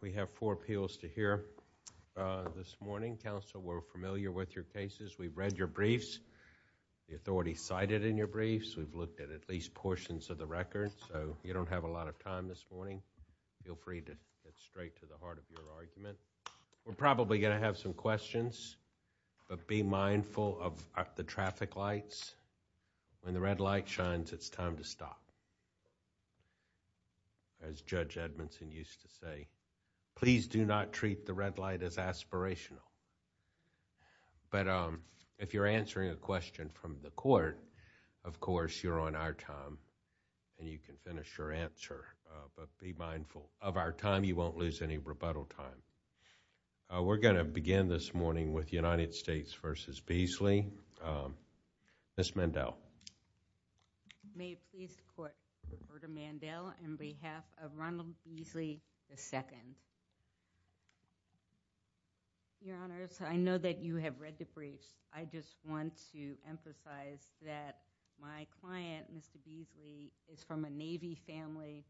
We have four appeals to hear this morning. Counsel, we're familiar with your cases. We've read your briefs. The authorities cited in your briefs. We've looked at at least portions of the records. So, you don't have a lot of time this morning. Feel free to get straight to the heart of your argument. We're probably going to have some questions, but be mindful of the traffic lights. When the red light shines, it's time to stop. As Judge Edmondson used to say, please do not treat the red light as aspirational. But if you're answering a question from the court, of course, you're on our time, and you can finish your answer. But be mindful of our time. You won't lose any rebuttal time. We're going to begin this morning with United States v. Beasley. Ms. Mandel. May it please the court, I'm Roberta Mandel on behalf of Ronald Beasley, II. Your Honors, I know that you have read the briefs. I just want to emphasize that my client, Mr. Beasley, is from a Navy family.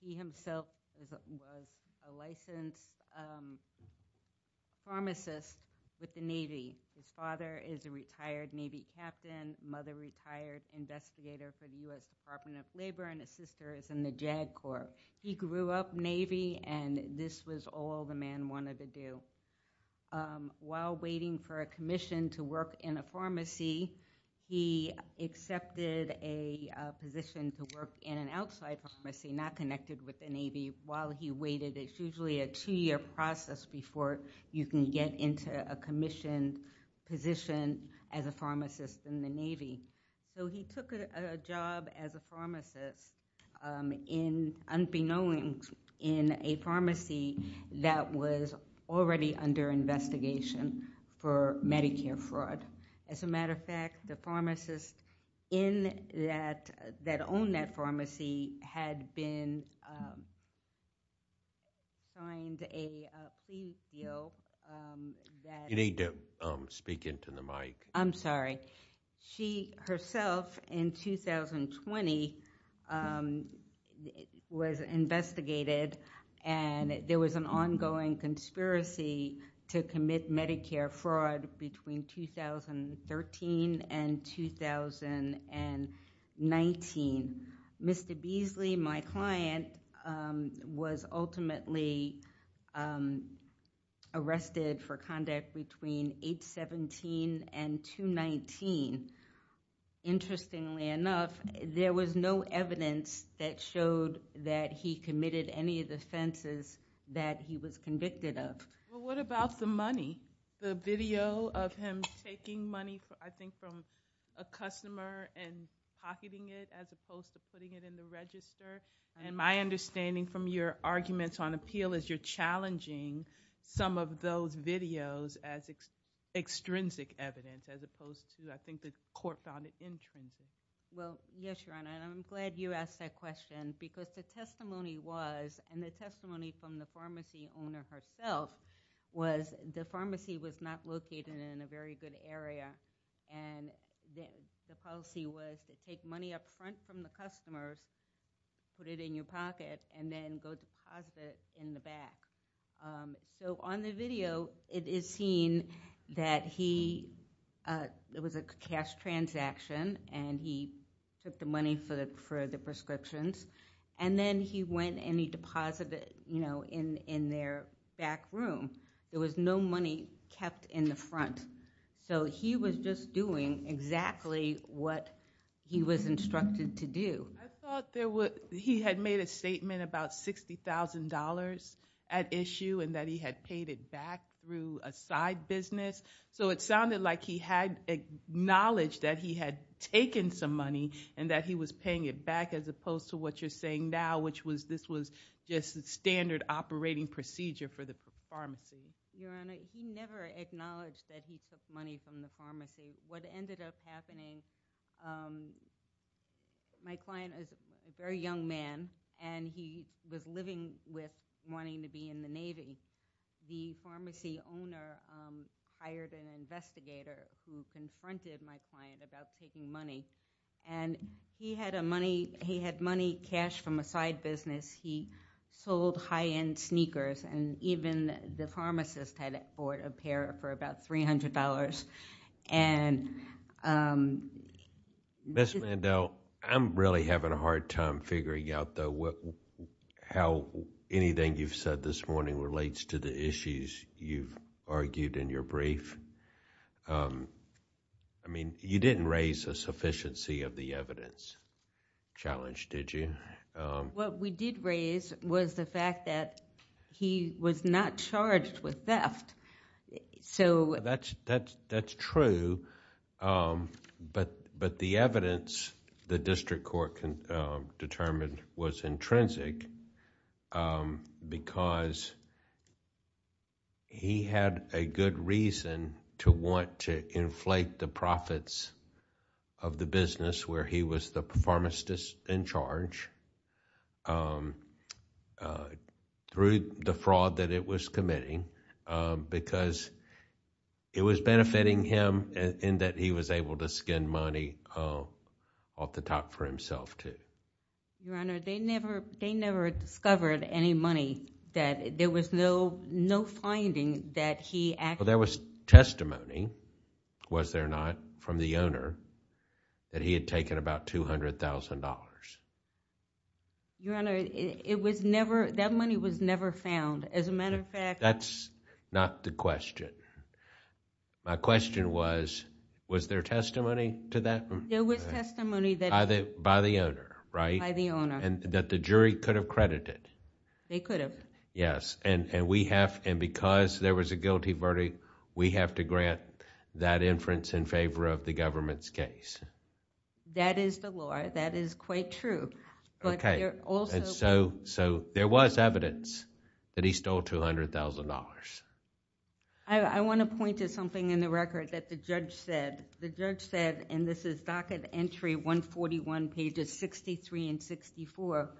He himself was a licensed pharmacist with the Navy. His father is a retired Navy captain, mother, retired investigator for the U.S. Department of Labor, and his sister is in the JAG Corps. He grew up Navy, and this was all the man wanted to do. While waiting for a commission to work in a pharmacy, he accepted a position to work in an outside pharmacy, not connected with the Navy, while he waited. It's usually a two-year process before you can get into a commissioned position as a pharmacist in the Navy. So he took a job as a pharmacist, unbeknownst, in a pharmacy that was already under investigation for Medicare fraud. You need to speak into the mic. I'm sorry. She herself, in 2020, was investigated, and there was an ongoing conspiracy to commit Medicare fraud between 2013 and 2019. Mr. Beasley was arrested for conduct between 8-17 and 2-19. Interestingly enough, there was no evidence that showed that he committed any of the offenses that he was convicted of. Well, what about the money? The video of him taking money, I think, from a customer and pocketing it, as opposed to putting it in the register. My understanding from your arguments on appeal is you're challenging some of those videos as extrinsic evidence, as opposed to, I think, the court found it intrinsic. Well, yes, Your Honor, and I'm glad you asked that question, because the testimony was, and the testimony from the pharmacy owner herself, was the pharmacy was not located in a very good area, and the policy was to take money up front from the customers, put it in your pocket, and then go deposit it in the back. On the video, it is seen that he, it was a cash transaction, and he took the money for the prescriptions, and then he went and he deposited it in their back room. There was no money kept in the front, so he was just doing exactly what he was instructed to do. I thought there was, he had made a statement about $60,000 at issue, and that he had paid it back through a side business, so it sounded like he had acknowledged that he had taken some money, and that he was paying it back, as opposed to what you're saying now, which was this was just standard operating procedure for the pharmacy. Your Honor, he never acknowledged that he took money from the pharmacy. What ended up happening, my client is a very young man, and he was living with wanting to be in the Navy. The pharmacy owner hired an investigator who confronted my client about taking money, and he had money cashed from a side business. He sold high-end sneakers, and even the pharmacist had bought a pair for about $300. Ms. Mandel, I'm really having a hard time figuring out, though, how anything you've said this morning relates to the issues you've argued in your brief. You didn't raise a sufficiency of the evidence challenge, did you? What we did raise was the fact that he was not charged with theft. That's true, but the evidence the district court determined was intrinsic because he had a good reason to want to inflate the profits of the business where he was the pharmacist in charge, through the fraud that it was committing, because it was benefiting him in that he was able to skin money off the top for himself, too. Your Honor, they never discovered any money. There was no finding that he actually... There was testimony, was there not, from the owner that he had taken about $200,000. Your Honor, that money was never found. As a matter of fact... That's not the question. My question was, was there testimony to that? There was testimony that... By the owner, right? By the owner. That the jury could have credited. They could have. Yes, and because there was a guilty verdict, we have to grant that inference in favor of the government's case. That is the law. That is quite true. There was evidence that he stole $200,000. I want to point to something in the record that the judge said. The judge said, and this is docket entry 141 pages 63 and 64,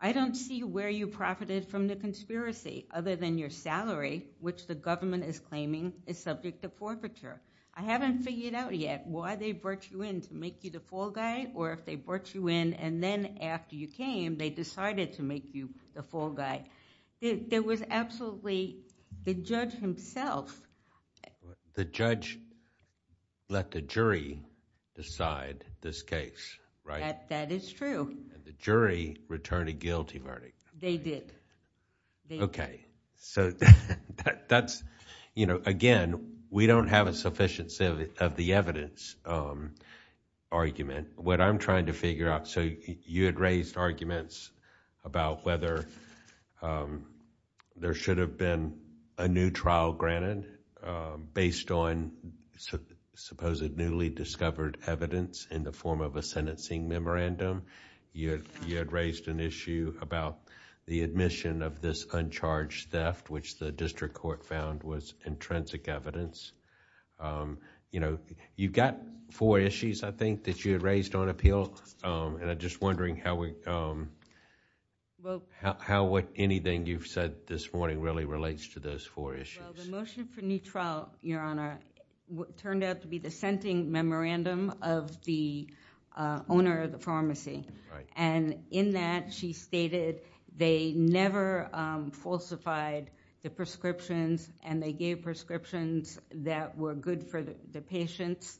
I don't see where you profited from the conspiracy other than your salary, which the government is claiming is subject to forfeiture. I haven't figured out yet why they brought you in, to make you the fall guy, or if they brought you in and then after you came, they decided to make you the fall guy. There was absolutely... The judge himself... decided this case, right? That is true. The jury returned a guilty verdict. They did. Okay. Again, we don't have a sufficiency of the evidence argument. What I'm trying to figure out... You had raised arguments about whether there should have been a new trial granted based on supposedly newly discovered evidence in the form of a sentencing memorandum. You had raised an issue about the admission of this uncharged theft, which the district court found was intrinsic evidence. You've got four issues, I think, that you had raised on appeal. I'm just wondering how anything you've said this morning really relates to those four issues. The motion for new trial, Your Honor, turned out to be the sentencing memorandum of the owner of the pharmacy. In that, she stated they never falsified the prescriptions and they gave prescriptions that were good for the patients.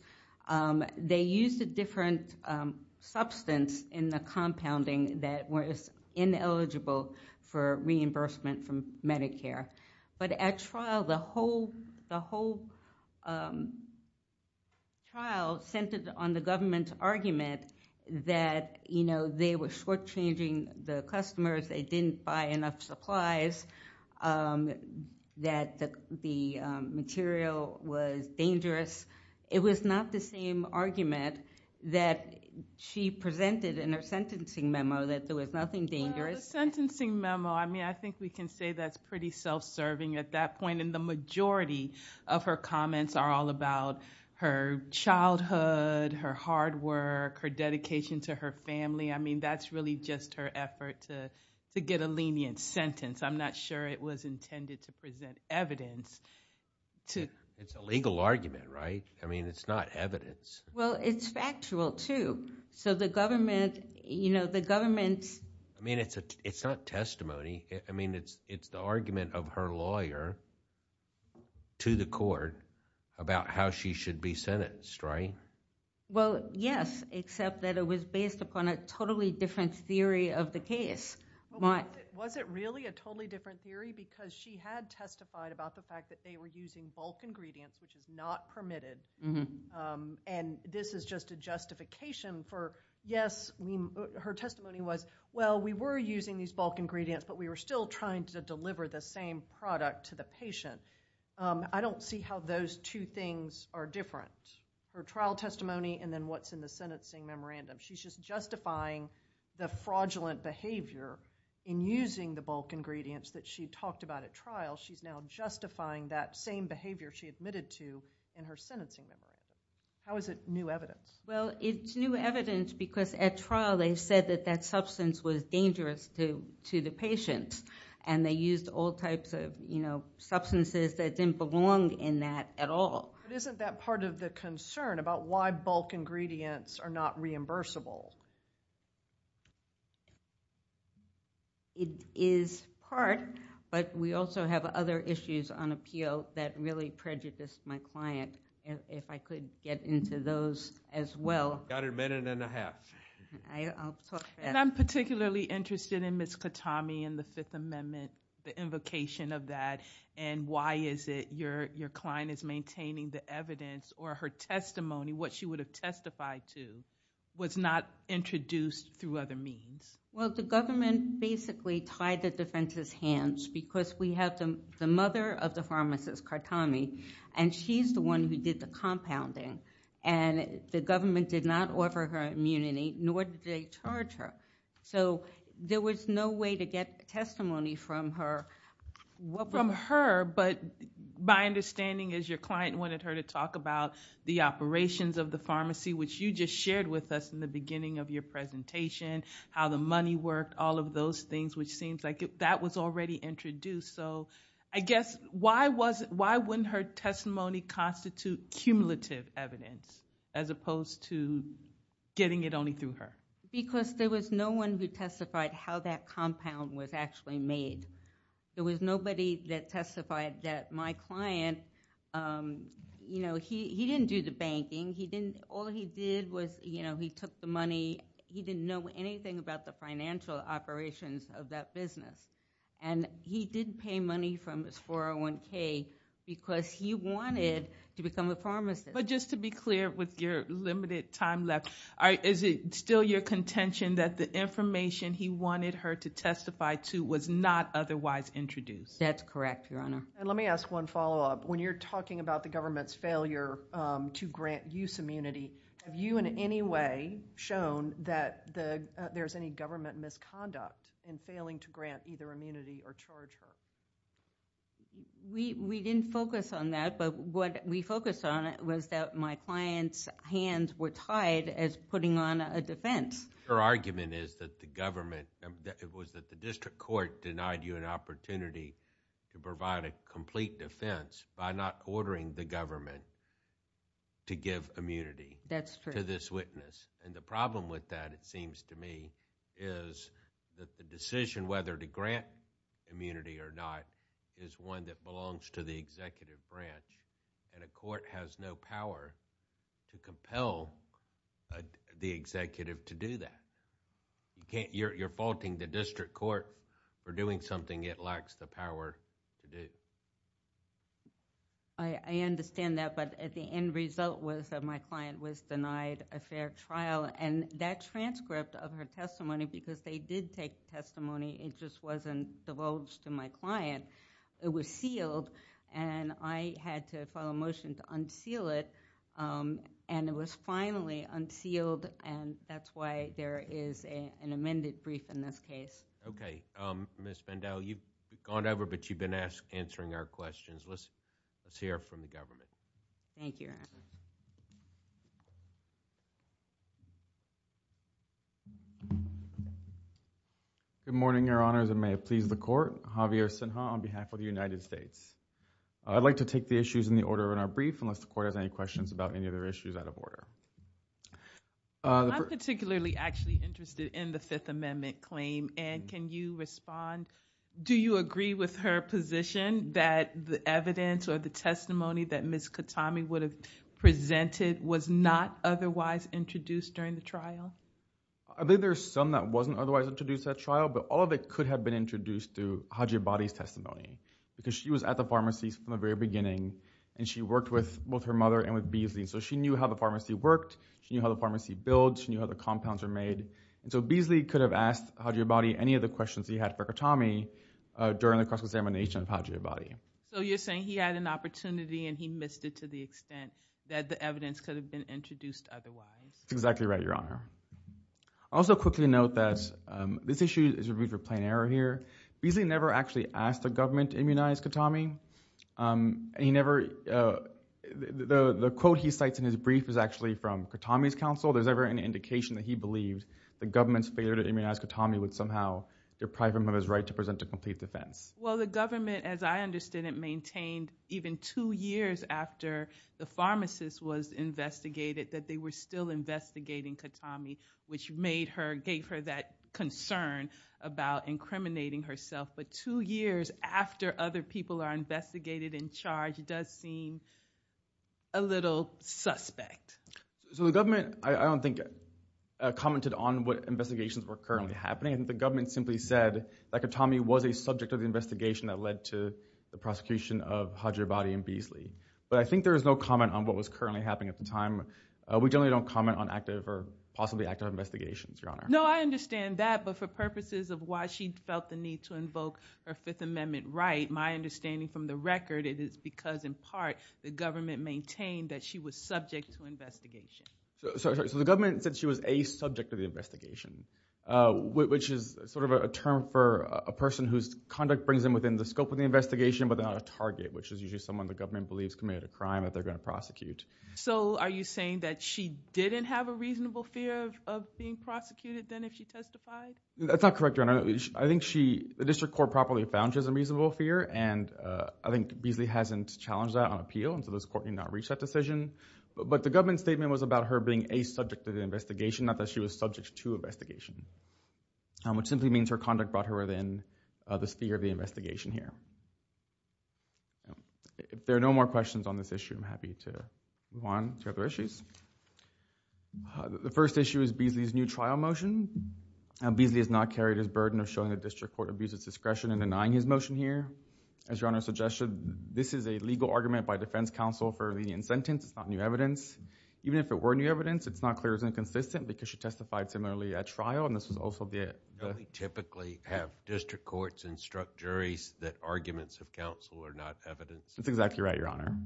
They used a different substance in the compounding that was ineligible for reimbursement from Medicare. But at trial, the whole trial centered on the government's argument that they were shortchanging the customers. They didn't buy enough supplies, that the material was dangerous. It was not the same argument that she presented in her sentencing memo, that there was nothing dangerous. The sentencing memo, I think we can say that's pretty self-serving at that point. The majority of her comments are all about her childhood, her hard work, her dedication to her family. That's really just her effort to get a lenient sentence. I'm not sure it was intended to present evidence. It's a legal argument, right? It's not evidence. It's factual, too. The government... It's not testimony. It's the argument of her lawyer to the court about how she should be sentenced, right? Well, yes, except that it was based upon a totally different theory of the case. Was it really a totally different theory? Because she had testified about the fact that they were using bulk ingredients, which is not permitted. And this is just a justification for, yes, her testimony was, well, we were using these bulk ingredients, but we were still trying to deliver the same product to the patient. I don't see how those two things are different, her trial testimony and then what's in the sentencing memorandum. She's just justifying the fraudulent behavior in using the bulk ingredients that she talked about at trial. She's now justifying that same behavior she admitted to in her sentencing memorandum. How is it new evidence? Well, it's new evidence because at trial they said that that substance was dangerous to the patient and they used all types of substances that didn't belong in that at all. But isn't that part of the concern about why bulk ingredients are not reimbursable? It is part, but we also have other issues on appeal that really prejudiced my client. If I could get into those as well. Got a minute and a half. I'll talk fast. And I'm particularly interested in Ms. Katami and the Fifth Amendment, the invocation of that and why is it your client is maintaining the evidence or her testimony, what she would testify to, was not introduced through other means? Well, the government basically tied the defense's hands because we have the mother of the pharmacist, Katami, and she's the one who did the compounding and the government did not offer her immunity nor did they charge her. So, there was no way to get testimony from her. From her, but my understanding is your client wanted her to talk about the operations of the pharmacy, which you just shared with us in the beginning of your presentation, how the money worked, all of those things, which seems like that was already introduced. So, I guess why wouldn't her testimony constitute cumulative evidence as opposed to getting it only through her? Because there was no one who testified how that compound was actually made. There was nobody that testified that my client, you know, he didn't do the banking. All he did was, you know, he took the money. He didn't know anything about the financial operations of that business. And he didn't pay money from his 401K because he wanted to become a pharmacist. But just to be clear with your limited time left, is it still your contention that the That's correct, Your Honor. And let me ask one follow-up. When you're talking about the government's failure to grant use immunity, have you in any way shown that there's any government misconduct in failing to grant either immunity or charge her? We didn't focus on that, but what we focused on was that my client's hands were tied as putting on a defense. Your argument is that the government... it was that the district court denied you an opportunity to provide a complete defense by not ordering the government to give immunity That's true. to this witness. And the problem with that, it seems to me, is that the decision whether to grant immunity or not is one that belongs to the executive branch. And a court has no power to compel the executive to do that. You're faulting the district court for doing something it lacks the power to do. I understand that, but the end result was that my client was denied a fair trial. And that transcript of her testimony, because they did take the testimony, it just wasn't divulged to my client. It was sealed, and I had to file a motion to unseal it. And it was finally unsealed, and that's why there is an amended brief in this case. Okay. Ms. Bendel, you've gone over, but you've been answering our questions. Let's hear from the government. Thank you, Your Honor. Good morning, Your Honors, and may it please the Court. Javier Sinha on behalf of the United States. I'd like to take the issues in the order in our brief, unless the Court has any questions about any other issues out of order. I'm particularly actually interested in the Fifth Amendment claim, and can you respond? Do you agree with her position that the evidence or the testimony that Ms. Katami would have presented was not otherwise introduced during the trial? I think there's some that wasn't otherwise introduced at trial, but all of it could have been introduced through Haji Abadi's testimony, because she was at the pharmacies from the very beginning, and she worked with both her mother and with Beasley, so she knew how the pharmacy worked. She knew how the pharmacy built. She knew how the compounds were made. So Beasley could have asked Haji Abadi any of the questions he had for Katami during the cross-examination of Haji Abadi. So you're saying he had an opportunity, and he missed it to the extent that the evidence could have been introduced otherwise. That's exactly right, Your Honor. I'll also quickly note that this issue is reviewed for plain error here. Beasley never actually asked the government to immunize Katami. The quote he cites in his brief is actually from Katami's counsel. There's never any indication that he believed the government's failure to immunize Katami would somehow deprive him of his right to present a complete defense. Well, the government, as I understand it, maintained even two years after the pharmacist was investigated that they were still investigating Katami, which gave her that concern about incriminating herself. But two years after other people are investigated and charged, it does seem a little suspect. So the government, I don't think, commented on what investigations were currently happening. The government simply said that Katami was a subject of the investigation that led to the prosecution of Haji Abadi and Beasley. But I think there is no comment on what was currently happening at the time. We generally don't comment on active or possibly active investigations, Your Honor. No, I understand that, but for purposes of why she felt the need to invoke her Fifth Amendment right, my understanding from the record, it is because, in part, the government maintained that she was subject to investigation. So the government said she was a subject of the investigation, which is sort of a term for a person whose conduct brings them within the scope of the investigation but they're not a target, which is usually someone the government believes committed a crime that they're going to prosecute. So are you saying that she didn't have a reasonable fear of being prosecuted than if she testified? That's not correct, Your Honor. I think the district court properly found she has a reasonable fear, and I think Beasley hasn't challenged that on appeal, and so this court did not reach that decision. But the government statement was about her being a subject of the investigation, not that she was subject to investigation, which simply means her conduct brought her within the sphere of the investigation here. If there are no more questions on this issue, I'm happy to move on to other issues. The first issue is Beasley's new trial motion. Beasley has not carried his burden of showing the district court abuses discretion in denying his motion here. As Your Honor suggested, this is a legal argument by defense counsel for a lenient sentence. It's not new evidence. Even if it were new evidence, it's not clear it was inconsistent because she testified similarly at trial, and this was also the— Don't they typically have district courts instruct juries that arguments of counsel are not evidence? That's exactly right, Your Honor.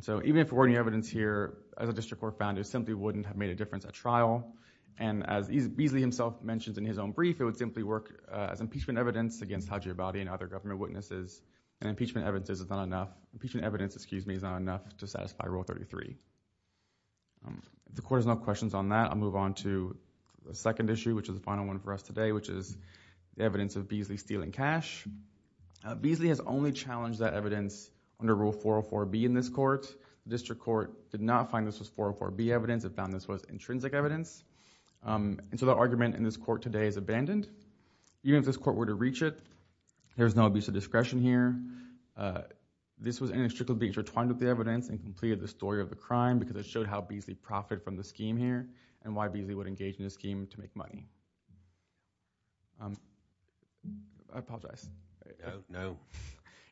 So even if it were new evidence here, as a district court found, it simply wouldn't have made a difference at trial, and as Beasley himself mentioned in his own brief, it would simply work as impeachment evidence against Haji Abadi and other government witnesses, and impeachment evidence is not enough to satisfy Rule 33. The court has no questions on that. I'll move on to the second issue, which is the final one for us today, which is the evidence of Beasley stealing cash. Beasley has only challenged that evidence under Rule 404B in this court. The district court did not find this was 404B evidence. It found this was intrinsic evidence, and so the argument in this court today is abandoned. Even if this court were to reach it, there's no abuse of discretion here. This was inextricably intertwined with the evidence and completed the story of the crime because it showed how Beasley profited from the scheme here and why Beasley would engage in a scheme to make money. I apologize. No.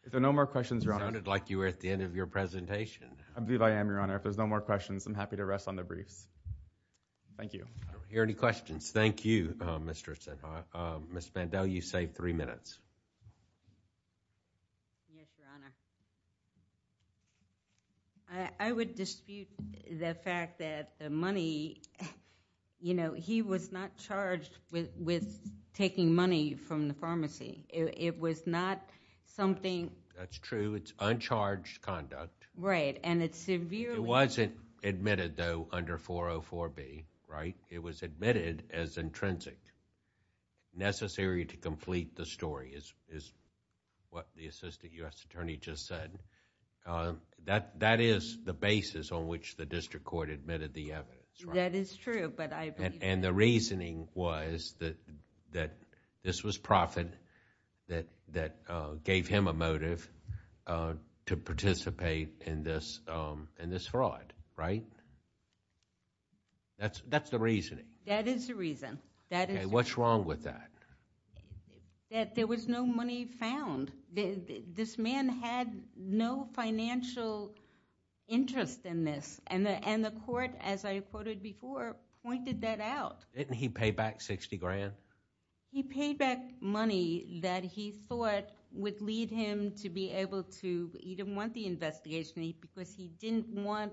If there are no more questions, Your Honor. It sounded like you were at the end of your presentation. I believe I am, Your Honor. If there's no more questions, I'm happy to rest on the briefs. Thank you. I don't hear any questions. Thank you, Mr. Esenhoff. Ms. Mandel, you saved three minutes. Yes, Your Honor. I would dispute the fact that the money, you know, he was not charged with taking money from the pharmacy. It was not something... That's true. It's uncharged conduct. Right, and it's severely... It wasn't admitted, though, under 404B, right? It was admitted as intrinsic, necessary to complete the story is what the assistant U.S. attorney just said. That is the basis on which the district court admitted the evidence, right? That is true, but I believe... And the reasoning was that this was profit that gave him a motive to participate in this fraud, right? That's the reasoning. That is the reason. Okay, what's wrong with that? That there was no money found. This man had no financial interest in this, and the court, as I quoted before, pointed that out. Didn't he pay back 60 grand? He paid back money that he thought would lead him to be able to... because he didn't want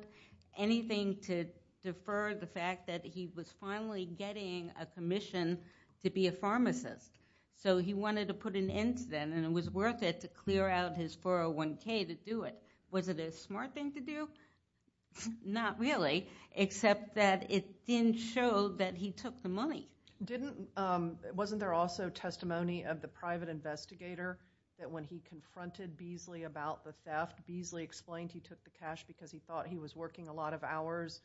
anything to defer the fact that he was finally getting a commission to be a pharmacist. So he wanted to put an end to that, and it was worth it to clear out his 401K to do it. Was it a smart thing to do? Not really, except that it didn't show that he took the money. Wasn't there also testimony of the private investigator that when he confronted Beasley about the theft, Beasley explained he took the cash because he thought he was working a lot of hours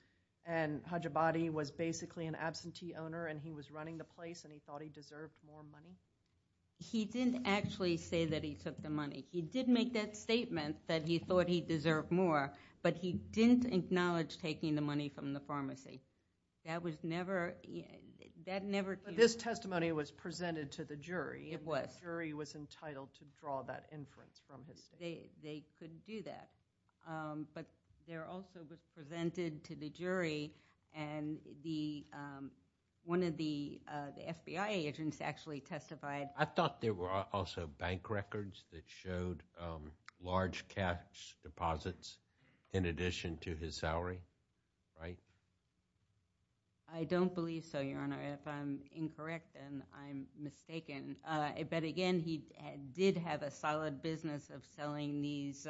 and Hajabadi was basically an absentee owner and he was running the place and he thought he deserved more money? He didn't actually say that he took the money. He did make that statement that he thought he deserved more, but he didn't acknowledge taking the money from the pharmacy. That never... But this testimony was presented to the jury. It was. The jury was entitled to draw that inference from his statement. They couldn't do that. But there also was presented to the jury, and one of the FBI agents actually testified. I thought there were also bank records that showed large cash deposits in addition to his salary, right? I don't believe so, Your Honor. If I'm incorrect, then I'm mistaken. But, again, he did have a solid business of selling these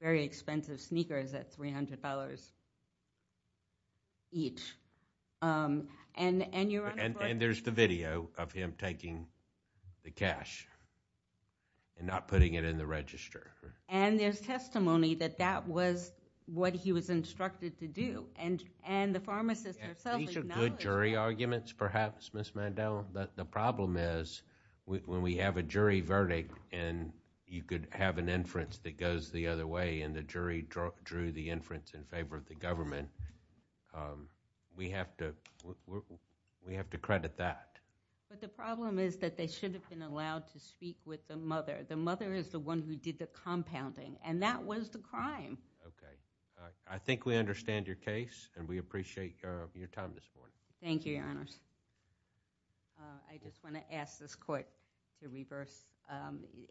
very expensive sneakers at $300 each. And, Your Honor... And there's the video of him taking the cash and not putting it in the register. And there's testimony that that was what he was instructed to do, and the pharmacist herself acknowledged... These are good jury arguments, perhaps, Ms. Mandel. But the problem is when we have a jury verdict and you could have an inference that goes the other way and the jury drew the inference in favor of the government, we have to credit that. But the problem is that they should have been allowed to speak with the mother. The mother is the one who did the compounding, and that was the crime. Okay. I think we understand your case, and we appreciate your time this morning. Thank you, Your Honors. I just want to ask this court to reverse.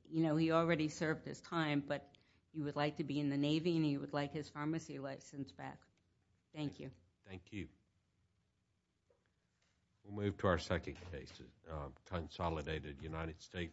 You know, he already served his time, but he would like to be in the Navy, and he would like his pharmacy license back. Thank you. Thank you. We'll move to our second case, a consolidated United States case.